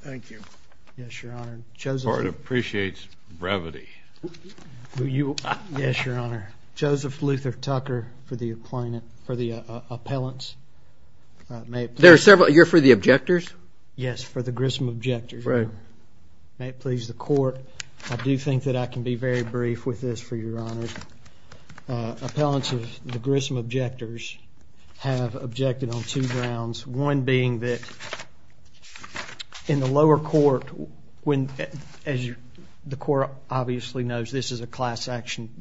Thank you. Yes, Your Honor. Part appreciates brevity. Yes, Your Honor. Joseph Luther Tucker for the appellants. You're for the objectors? Yes, for the Grissom objectors. May it please the Court. I do think that I can be very brief with this, Your Honor. Appellants of the Grissom objectors have objected on two grounds. One being that in the lower court, as the Court obviously knows, this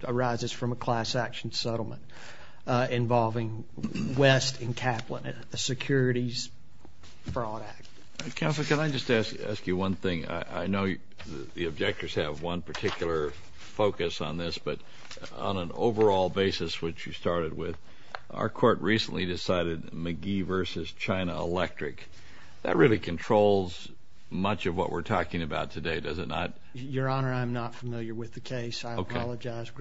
arises from a class action settlement involving West and Kaplan, a securities fraud act. Counsel, can I just ask you one thing? I know the objectors have one particular focus on this, but on an overall basis, which you started with, our court recently decided McGee v. China Electric. That really controls much of what we're talking about today, does it not? Your Honor, I'm not familiar with the case. I apologize.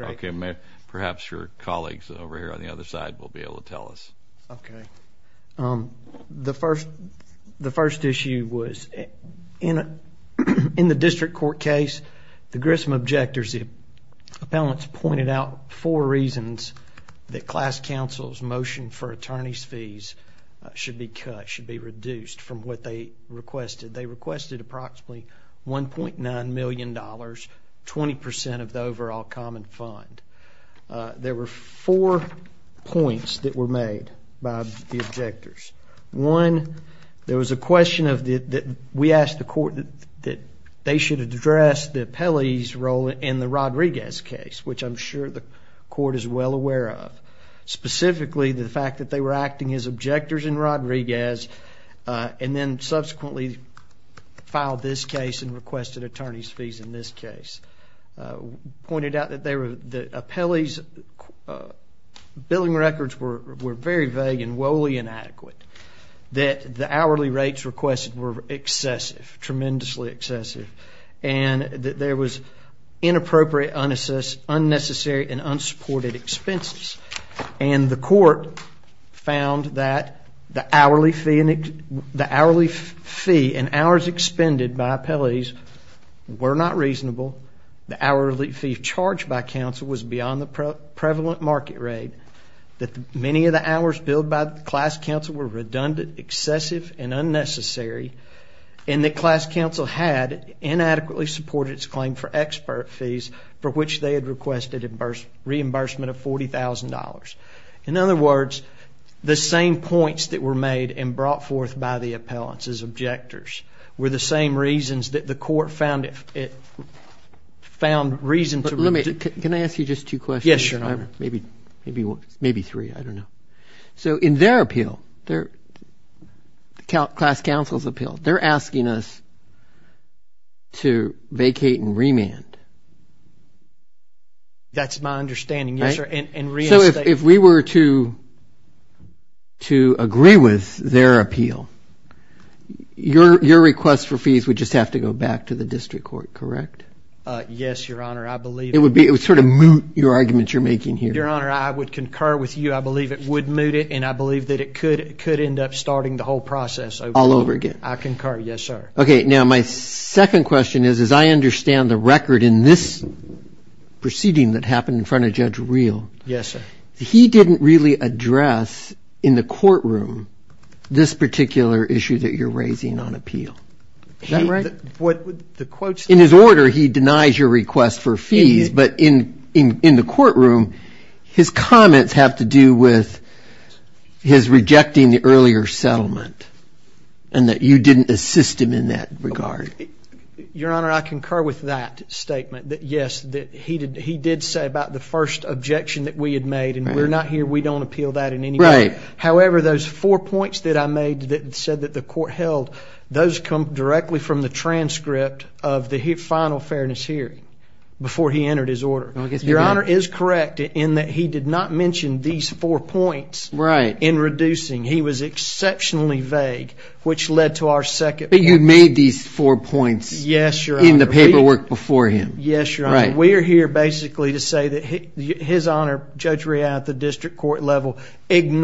Perhaps your colleagues over here on the other side will be able to tell us. Okay. The first issue was in the district court case, the Grissom objectors, as the appellants pointed out, four reasons that class counsel's motion for attorney's fees should be cut, should be reduced from what they requested. They requested approximately $1.9 million, 20% of the overall common fund. There were four points that were made by the objectors. One, there was a question that we asked the court that they should address the appellee's role in the Rodriguez case, which I'm sure the court is well aware of, specifically the fact that they were acting as objectors in Rodriguez and then subsequently filed this case and requested attorney's fees in this case. We pointed out that the appellee's billing records were very vague and woefully inadequate, that the hourly rates requested were excessive, tremendously excessive, and that there was inappropriate, unnecessary, and unsupported expenses. And the court found that the hourly fee and hours expended by appellees were not reasonable, the hourly fee charged by counsel was beyond the prevalent market rate, that many of the hours billed by class counsel were redundant, excessive, and unnecessary, and that class counsel had inadequately supported its claim for expert fees for which they had requested reimbursement of $40,000. In other words, the same points that were made and brought forth by the appellants as objectors were the same reasons that the court found reason to reject. Can I ask you just two questions? Yes, Your Honor. Maybe three, I don't know. So in their appeal, the class counsel's appeal, they're asking us to vacate and remand. That's my understanding, yes, sir, and reinstate. So if we were to agree with their appeal, your request for fees would just have to go back to the district court, correct? Yes, Your Honor, I believe it would. It would sort of moot your argument you're making here. Your Honor, I would concur with you. I believe it would moot it, and I believe that it could end up starting the whole process over. I'll over again. I concur, yes, sir. Okay, now my second question is I understand the record in this proceeding that happened in front of Judge Reel. Yes, sir. He didn't really address in the courtroom this particular issue that you're raising on appeal. Is that right? In his order, he denies your request for fees. But in the courtroom, his comments have to do with his rejecting the earlier settlement and that you didn't assist him in that regard. Your Honor, I concur with that statement that, yes, he did say about the first objection that we had made, and we're not here, we don't appeal that in any way. However, those four points that I made that said that the court held, those come directly from the transcript of the final fairness hearing before he entered his order. Your Honor is correct in that he did not mention these four points in reducing. He was exceptionally vague, which led to our second point. But you made these four points in the paperwork before him. Yes, Your Honor. We are here basically to say that his Honor, Judge Reel, at the district court level, And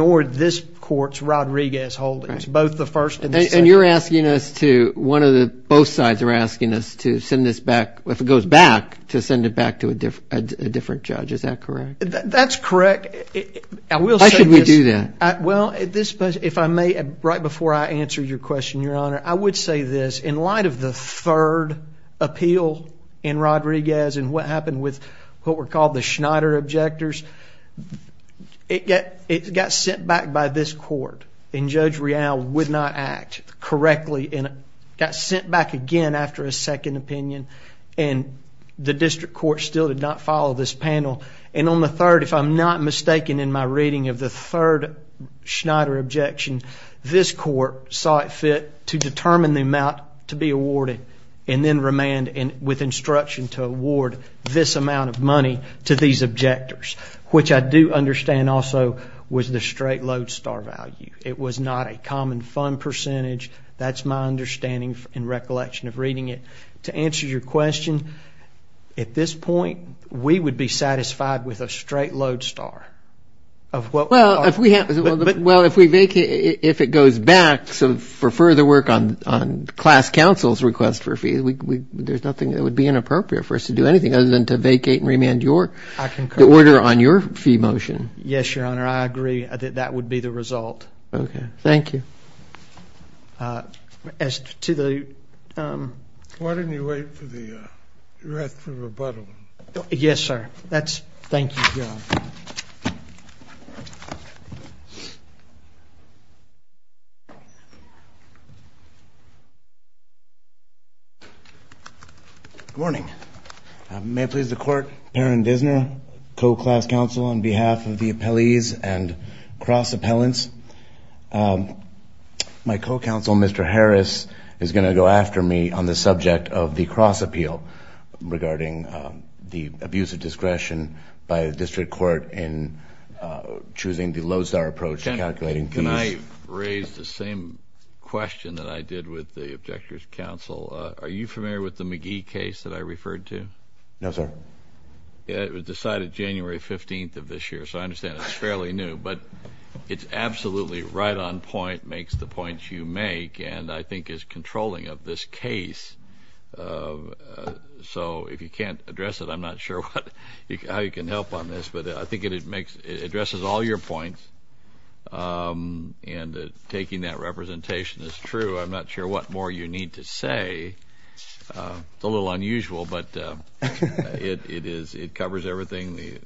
you're asking us to, one of the, both sides are asking us to send this back, if it goes back, to send it back to a different judge. Is that correct? That's correct. Why should we do that? Well, if I may, right before I answer your question, Your Honor, I would say this. In light of the third appeal in Rodriguez and what happened with what were called the Schneider objectors, it got sent back by this court. And Judge Reel would not act correctly and it got sent back again after a second opinion. And the district court still did not follow this panel. And on the third, if I'm not mistaken in my reading of the third Schneider objection, this court saw it fit to determine the amount to be awarded and then remand with instruction to award this amount of money to these objectors, which I do understand also was the straight lodestar value. It was not a common fund percentage. That's my understanding in recollection of reading it. To answer your question, at this point, we would be satisfied with a straight lodestar. Well, if we vacate, if it goes back for further work on class counsel's request for a fee, there's nothing that would be inappropriate for us to do anything other than to vacate and remand the order on your fee motion. Yes, Your Honor, I agree that that would be the result. Okay. Thank you. As to the... Why don't you wait for the rest of the rebuttal? Yes, sir. That's... Thank you, Your Honor. Good morning. May it please the Court, Perrin Dissner, co-class counsel on behalf of the appellees and cross appellants. My co-counsel, Mr. Harris, is going to go after me on the subject of the cross appeal regarding the abuse of discretion by a district court in choosing the lodestar approach and calculating fees. Can I raise the same question that I did with the objectors' counsel? Are you familiar with the McGee case that I referred to? No, sir. It was decided January 15th of this year, so I understand it's fairly new, but it's absolutely right on point, makes the points you make, and I think is controlling of this case. So if you can't address it, I'm not sure how you can help on this, but I think it addresses all your points, and taking that representation is true. I'm not sure what more you need to say. It's a little unusual, but it covers everything.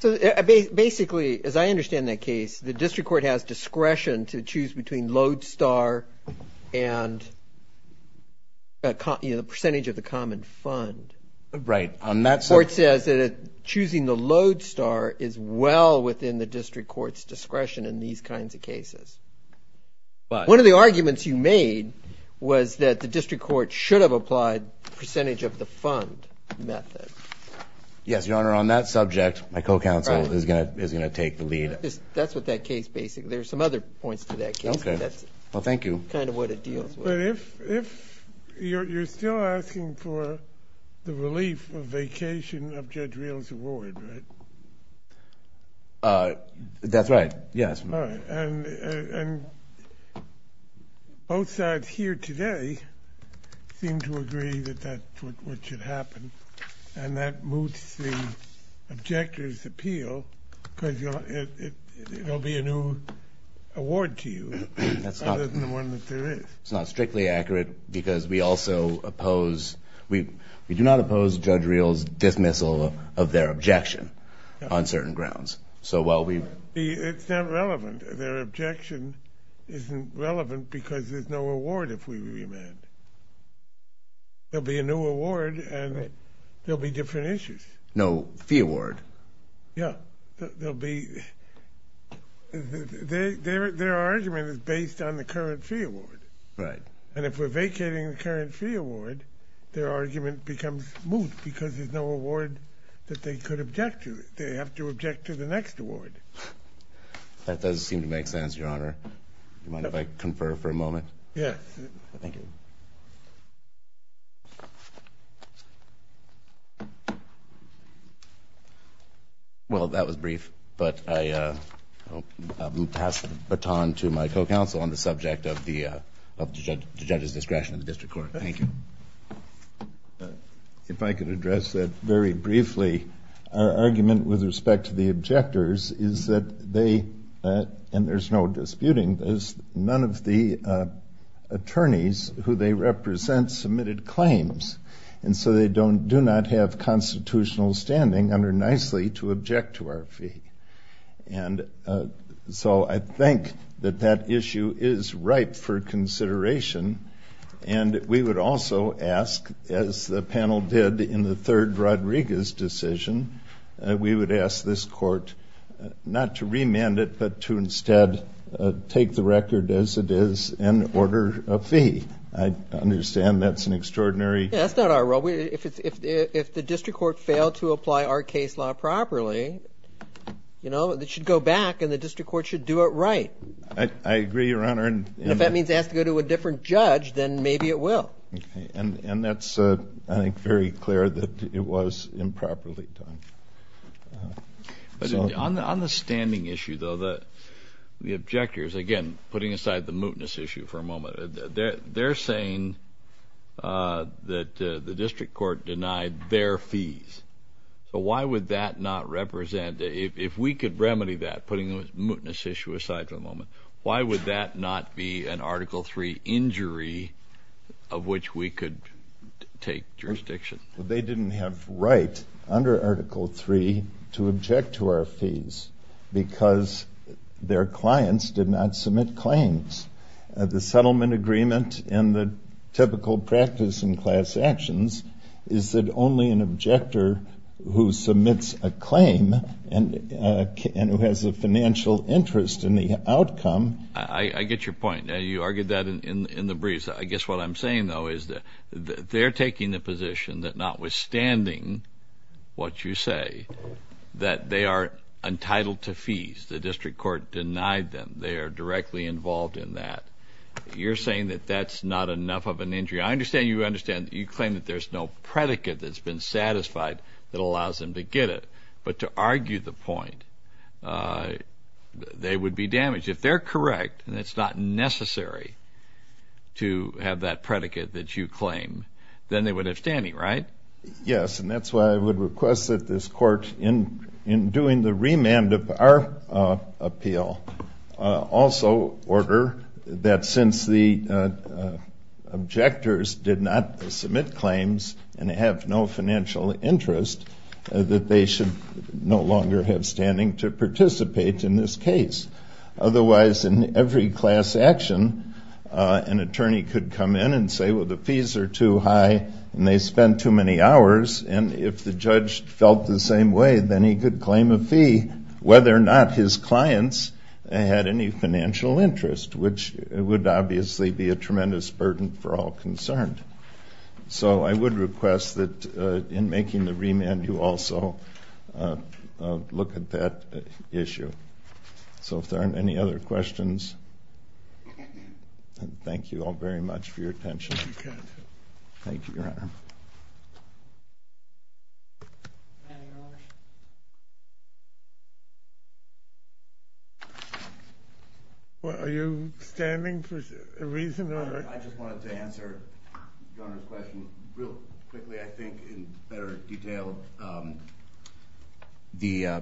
Basically, as I understand that case, the district court has discretion to choose between lodestar and the percentage of the common fund. Right. The court says that choosing the lodestar is well within the district court's discretion in these kinds of cases. One of the arguments you made was that the district court should have applied percentage of the fund method. Yes, Your Honor, on that subject, my co-counsel is going to take the lead. That's with that case, basically. There are some other points to that case, but that's kind of what it deals with. But if you're still asking for the relief of vacation of Judge Reel's award, right? That's right, yes. All right. And both sides here today seem to agree that that's what should happen, and that moves the objector's appeal because it will be a new award to you other than the one that there is. It's not strictly accurate because we do not oppose Judge Reel's dismissal of their objection on certain grounds. It's not relevant. Their objection isn't relevant because there's no award if we remand. There will be a new award, and there will be different issues. No fee award. Yes. Their argument is based on the current fee award. Right. And if we're vacating the current fee award, their argument becomes moot because there's no award that they could object to. They have to object to the next award. That does seem to make sense, Your Honor. Do you mind if I confer for a moment? Yes. Thank you. Well, that was brief, but I will pass the baton to my co-counsel on the subject of the judge's discretion in the district court. Thank you. If I could address that very briefly, our argument with respect to the objectors is that they, and there's no disputing this, none of the attorneys who they represent submitted claims, and so they do not have constitutional standing under nicely to object to our fee. And so I think that that issue is ripe for consideration, and we would also ask, as the panel did in the third Rodriguez decision, we would ask this court not to remand it but to instead take the record as it is and order a fee. I understand that's an extraordinary. Yeah, that's not our role. If the district court failed to apply our case law properly, you know, it should go back and the district court should do it right. I agree, Your Honor. And if that means it has to go to a different judge, then maybe it will. Okay. And that's, I think, very clear that it was improperly done. On the standing issue, though, the objectors, again, putting aside the mootness issue for a moment, they're saying that the district court denied their fees. So why would that not represent, if we could remedy that, putting the mootness issue aside for a moment, why would that not be an Article III injury of which we could take jurisdiction? Well, they didn't have right under Article III to object to our fees because their clients did not submit claims. The settlement agreement and the typical practice in class actions is that only an objector who submits a claim and who has a financial interest in the outcome. I get your point. You argued that in the briefs. I guess what I'm saying, though, is that they're taking the position that notwithstanding what you say, that they are entitled to fees. The district court denied them. They are directly involved in that. You're saying that that's not enough of an injury. I understand you claim that there's no predicate that's been satisfied that allows them to get it. But to argue the point, they would be damaged. If they're correct and it's not necessary to have that predicate that you claim, then they would have standing, right? Yes, and that's why I would request that this court, in doing the remand of our appeal, also order that since the objectors did not submit claims and have no financial interest, that they should no longer have standing to participate in this case. Otherwise, in every class action, an attorney could come in and say, well, the fees are too high and they spend too many hours. And if the judge felt the same way, then he could claim a fee, whether or not his clients had any financial interest, which would obviously be a tremendous burden for all concerned. So I would request that, in making the remand, you also look at that issue. So if there aren't any other questions, thank you all very much for your attention. Thank you, Your Honor. Are you standing for a reason? I just wanted to answer Your Honor's question real quickly, I think, in better detail. Part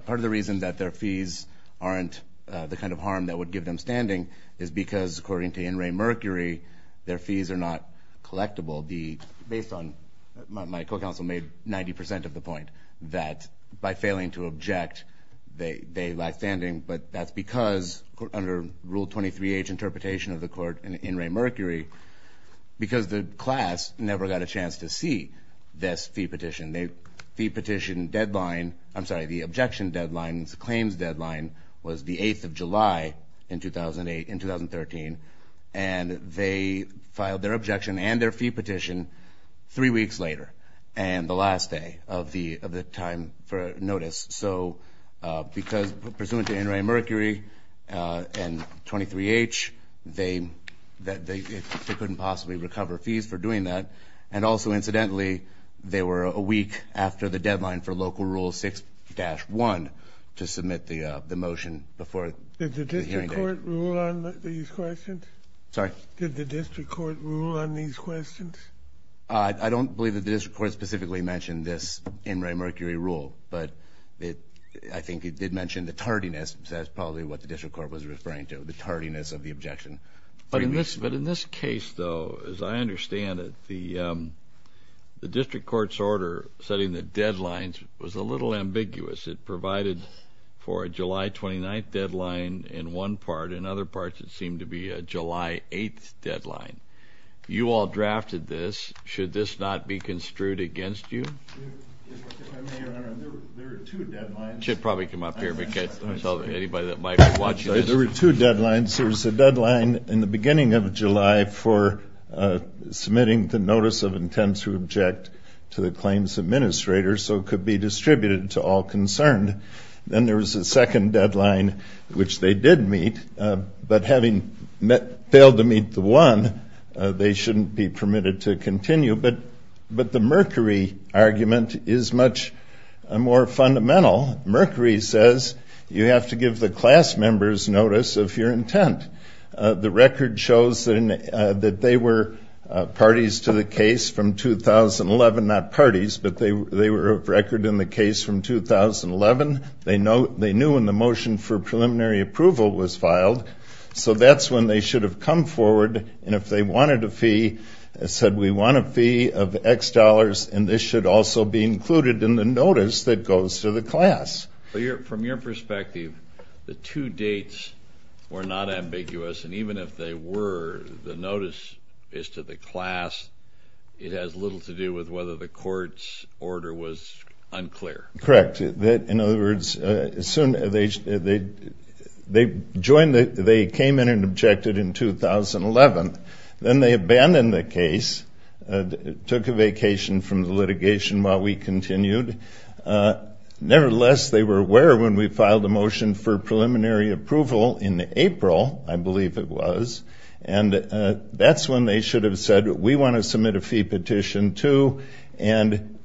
of the reason that their fees aren't the kind of harm that would give them standing is because, according to In re Mercury, their fees are not collectible. My co-counsel made 90% of the point that by failing to object, they lack standing. But that's because, under Rule 23H interpretation of the court in In re Mercury, because the class never got a chance to see this fee petition. The fee petition deadline, I'm sorry, the objection deadline, the claims deadline, was the 8th of July in 2013. And they filed their objection and their fee petition three weeks later, and the last day of the time for notice. So because, pursuant to In re Mercury and 23H, they couldn't possibly recover fees for doing that. And also, incidentally, they were a week after the deadline for Local Rule 6-1 to submit the motion before the hearing date. Did the district court rule on these questions? Sorry? Did the district court rule on these questions? I don't believe that the district court specifically mentioned this In re Mercury rule, but I think it did mention the tardiness, so that's probably what the district court was referring to, the tardiness of the objection. But in this case, though, as I understand it, the district court's order setting the deadlines was a little ambiguous. It provided for a July 29th deadline in one part. In other parts, it seemed to be a July 8th deadline. You all drafted this. Should this not be construed against you? If I may, Your Honor, there were two deadlines. I should probably come up here and catch anybody that might be watching this. There were two deadlines. There was a deadline in the beginning of July for submitting the notice of intent to object to the claims administrator so it could be distributed to all concerned. Then there was a second deadline, which they did meet, but having failed to meet the one, they shouldn't be permitted to continue. But the Mercury argument is much more fundamental. Mercury says you have to give the class members notice of your intent. The record shows that they were parties to the case from 2011, not parties, but they were a record in the case from 2011. They knew when the motion for preliminary approval was filed, so that's when they should have come forward, and if they wanted a fee, said, We want a fee of X dollars, and this should also be included in the notice that goes to the class. From your perspective, the two dates were not ambiguous, and even if they were, the notice is to the class. It has little to do with whether the court's order was unclear. Correct. In other words, they came in and objected in 2011. Then they abandoned the case, took a vacation from the litigation while we continued. Nevertheless, they were aware when we filed a motion for preliminary approval in April, I believe it was, and that's when they should have said, We want to submit a fee petition, too, and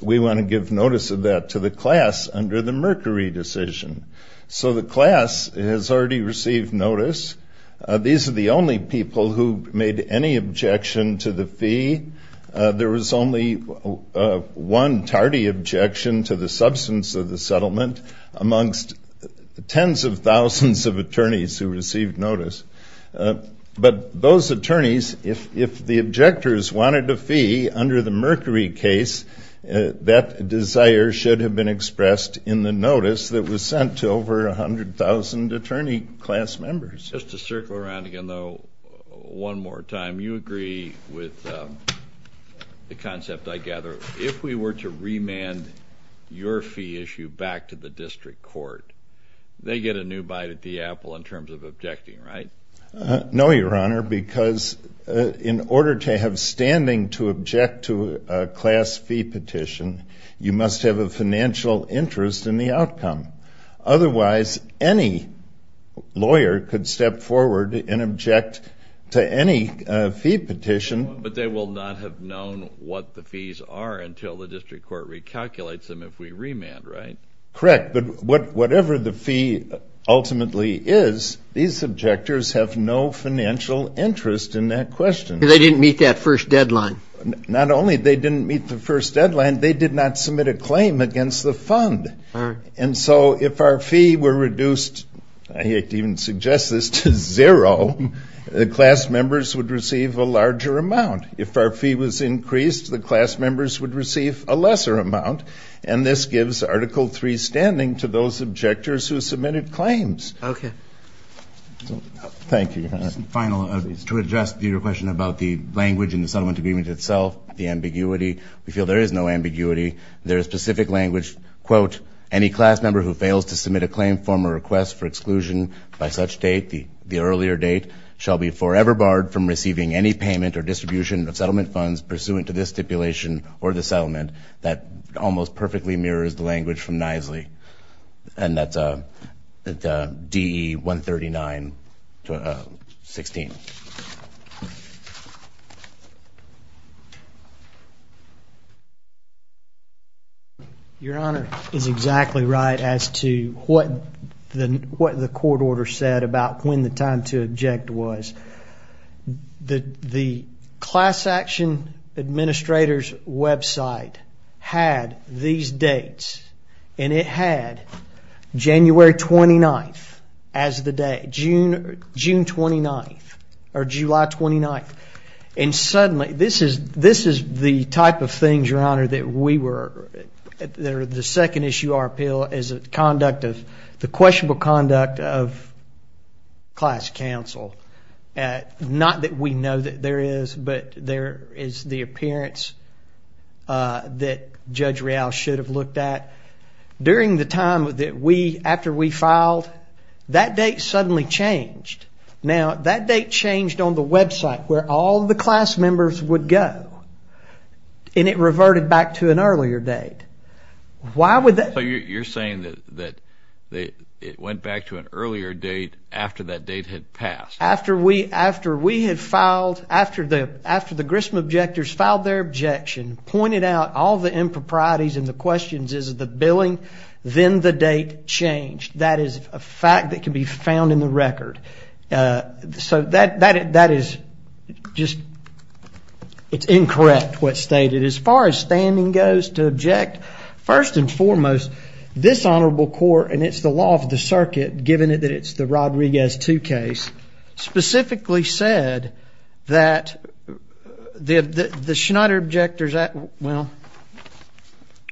we want to give notice of that to the class under the Mercury decision. So the class has already received notice. These are the only people who made any objection to the fee. There was only one tardy objection to the substance of the settlement amongst tens of thousands of attorneys who received notice. But those attorneys, if the objectors wanted a fee under the Mercury case, that desire should have been expressed in the notice that was sent to over 100,000 attorney class members. Just to circle around again, though, one more time, you agree with the concept, I gather. If we were to remand your fee issue back to the district court, they get a new bite at the apple in terms of objecting, right? No, Your Honor, because in order to have standing to object to a class fee petition, you must have a financial interest in the outcome. Otherwise, any lawyer could step forward and object to any fee petition. But they will not have known what the fees are until the district court recalculates them if we remand, right? Correct, but whatever the fee ultimately is, these objectors have no financial interest in that question. They didn't meet that first deadline. Not only they didn't meet the first deadline, they did not submit a claim against the fund. And so if our fee were reduced, I hate to even suggest this, to zero, the class members would receive a larger amount. If our fee was increased, the class members would receive a lesser amount. And this gives Article III standing to those objectors who submitted claims. Okay. Thank you, Your Honor. Final, to address your question about the language in the settlement agreement itself, the ambiguity, we feel there is no ambiguity. There is specific language, quote, any class member who fails to submit a claim, form, or request for exclusion by such date, the earlier date, shall be forever barred from receiving any payment or distribution of settlement funds pursuant to this stipulation or the settlement. That almost perfectly mirrors the language from Knisley. And that's DE 139-16. Thank you. Your Honor is exactly right as to what the court order said about when the time to object was. The class action administrator's website had these dates, and it had January 29th as the date, June 29th, or July 29th. And suddenly, this is the type of things, Your Honor, that we were, the second issue of our appeal, is the conduct of, the questionable conduct of class counsel. Not that we know that there is, but there is the appearance that Judge Real should have looked at. During the time that we, after we filed, that date suddenly changed. Now, that date changed on the website where all the class members would go. And it reverted back to an earlier date. Why would that? You're saying that it went back to an earlier date after that date had passed. After we had filed, after the Grissom objectors filed their objection, pointed out all the improprieties and the questions, is it the billing? Then the date changed. That is a fact that can be found in the record. So that is just, it's incorrect what's stated. As far as standing goes to object, first and foremost, this honorable court, and it's the law of the circuit given that it's the Rodriguez 2 case, specifically said that the Schneider objectors, well,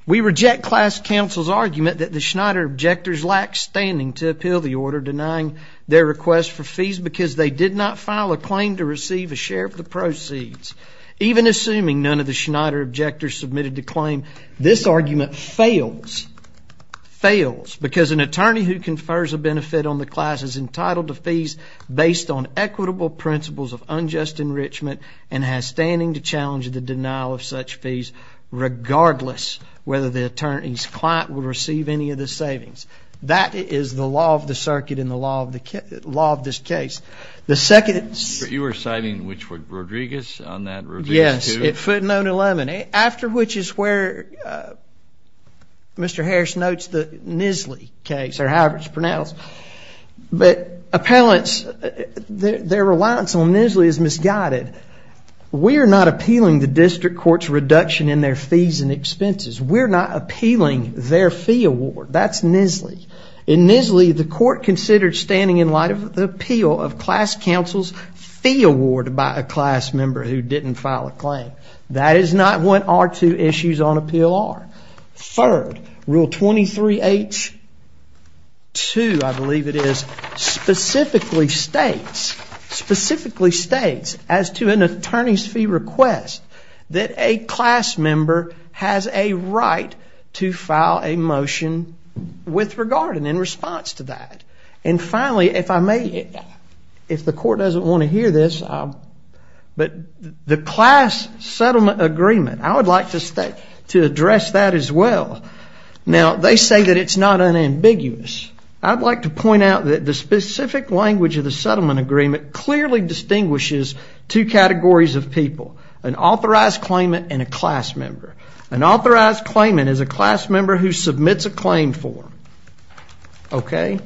we reject class counsel's argument that the Schneider objectors lacked standing to appeal the order denying their request for fees because they did not file a claim to receive a share of the proceeds. Even assuming none of the Schneider objectors submitted the claim, this argument fails, fails, because an attorney who confers a benefit on the class is entitled to fees based on equitable principles of unjust enrichment and has standing to challenge the denial of such fees, regardless whether the attorney's client will receive any of the savings. That is the law of the circuit and the law of this case. You were citing which one, Rodriguez on that, Rodriguez 2? Yes, at footnote 11, after which is where Mr. Harris notes the Nisly case, or however it's pronounced. But appellants, their reliance on Nisly is misguided. We are not appealing the district court's reduction in their fees and expenses. We're not appealing their fee award. That's Nisly. In Nisly, the court considered standing in light of the appeal of class counsel's fee award by a class member who didn't file a claim. That is not what our two issues on appeal are. Third, Rule 23H2, I believe it is, specifically states, specifically states as to an attorney's fee request that a class member has a right to file a motion with regard and in response to that. And finally, if I may, if the court doesn't want to hear this, but the class settlement agreement, I would like to address that as well. Now, they say that it's not unambiguous. I'd like to point out that the specific language of the settlement agreement clearly distinguishes two categories of people. An authorized claimant and a class member. An authorized claimant is a class member who submits a claim form. Okay?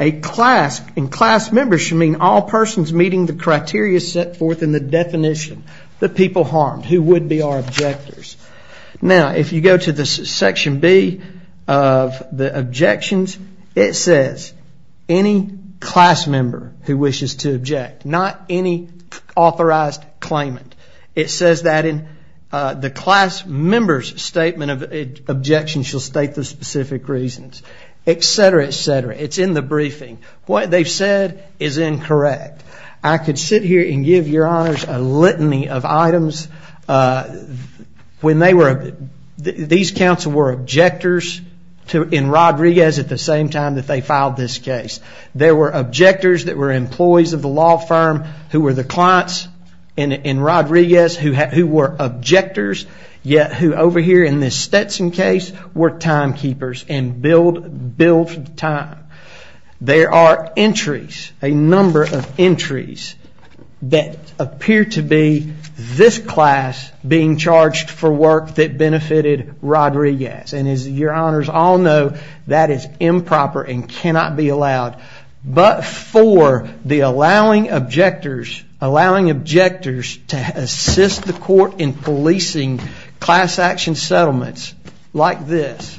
A class, and class members should mean all persons meeting the criteria set forth in the definition. The people harmed, who would be our objectors. Now, if you go to this section B of the objections, it says any class member who wishes to object. Not any authorized claimant. It says that the class member's statement of objection shall state the specific reasons. Et cetera, et cetera. It's in the briefing. What they've said is incorrect. I could sit here and give your honors a litany of items. When they were, these counsel were objectors in Rodriguez at the same time that they filed this case. There were objectors that were employees of the law firm who were the clients in Rodriguez who were objectors, yet who over here in this Stetson case were timekeepers and billed for the time. There are entries, a number of entries, that appear to be this class being charged for work that benefited Rodriguez. And as your honors all know, that is improper and cannot be allowed. But for the allowing objectors, allowing objectors to assist the court in policing class action settlements like this,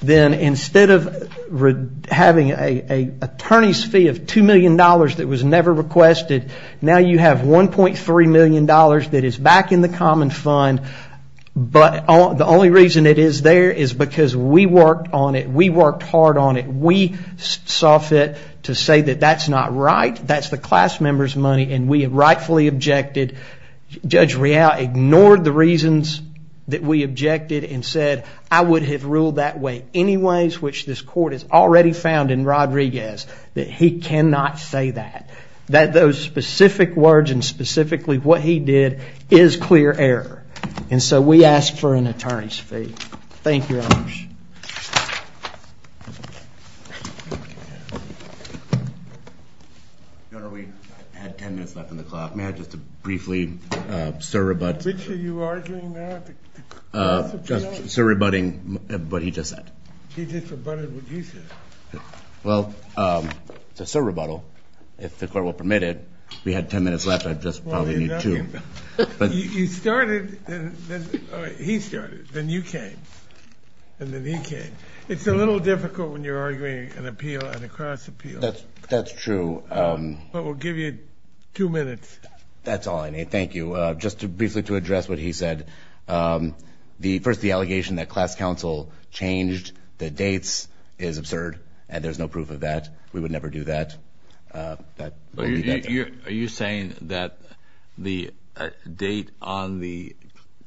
then instead of having an attorney's fee of $2 million that was never requested, now you have $1.3 million that is back in the common fund, but the only reason it is there is because we worked on it. We worked hard on it. We saw fit to say that that's not right. That's the class member's money, and we have rightfully objected. Judge Real ignored the reasons that we objected and said, I would have ruled that way anyways, which this court has already found in Rodriguez, that he cannot say that, that those specific words and specifically what he did is clear error. And so we ask for an attorney's fee. Thank you, your honors. Your honor, we have 10 minutes left on the clock. May I just briefly, sir, rebut? Which are you arguing now? Sir, rebutting what he just said. He just rebutted what you said. Well, sir, rebuttal, if the court will permit it. We had 10 minutes left. I just probably need two. You started. He started. Then you came, and then he came. It's a little difficult when you're arguing an appeal and a cross appeal. That's true. But we'll give you two minutes. That's all I need. Thank you. Just briefly to address what he said. First, the allegation that class counsel changed the dates is absurd, and there's no proof of that. We would never do that. Are you saying that the date on the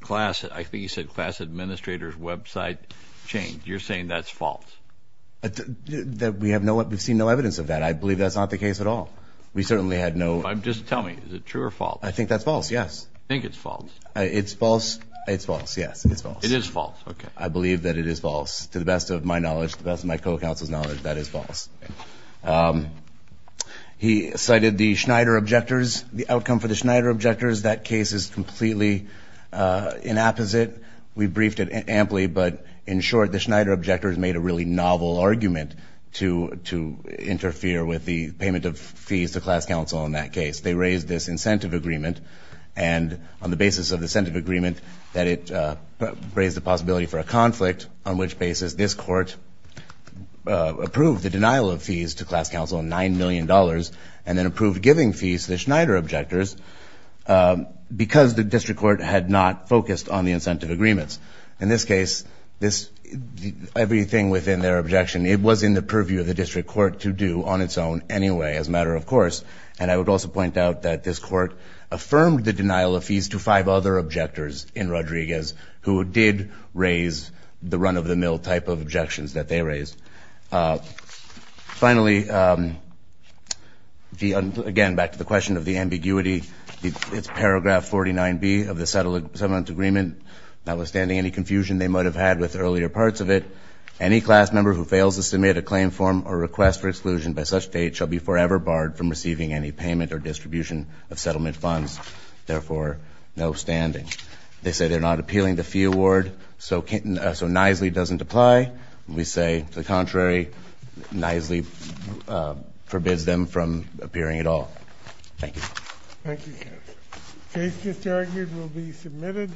class, I think you said class administrator's website changed. You're saying that's false. We have seen no evidence of that. I believe that's not the case at all. We certainly had no. Just tell me. Is it true or false? I think that's false, yes. I think it's false. It's false. It's false, yes. It's false. It is false. Okay. I believe that it is false. To the best of my knowledge, to the best of my co-counsel's knowledge, that is false. He cited the Schneider objectors, the outcome for the Schneider objectors. That case is completely inapposite. We briefed it amply, but in short, the Schneider objectors made a really novel argument to interfere with the payment of fees to class counsel in that case. They raised this incentive agreement, and on the basis of the incentive agreement, that it raised the possibility for a conflict, on which basis this court approved the denial of fees to class counsel, $9 million, and then approved giving fees to the Schneider objectors because the district court had not focused on the incentive agreements. In this case, everything within their objection, it was in the purview of the district court to do on its own anyway, as a matter of course. And I would also point out that this court affirmed the denial of fees to five other objectors in Rodriguez who did raise the run-of-the-mill type of objections that they raised. Finally, again, back to the question of the ambiguity, it's paragraph 49B of the settlement agreement. Notwithstanding any confusion they might have had with earlier parts of it, any class member who fails to submit a claim form or request for exclusion by such date shall be forever barred from receiving any payment or distribution of settlement funds, therefore, no standing. They say they're not appealing the fee award, so nicely doesn't apply. We say, to the contrary, nicely forbids them from appearing at all. Thank you. Thank you, counsel. The case disargued will be submitted.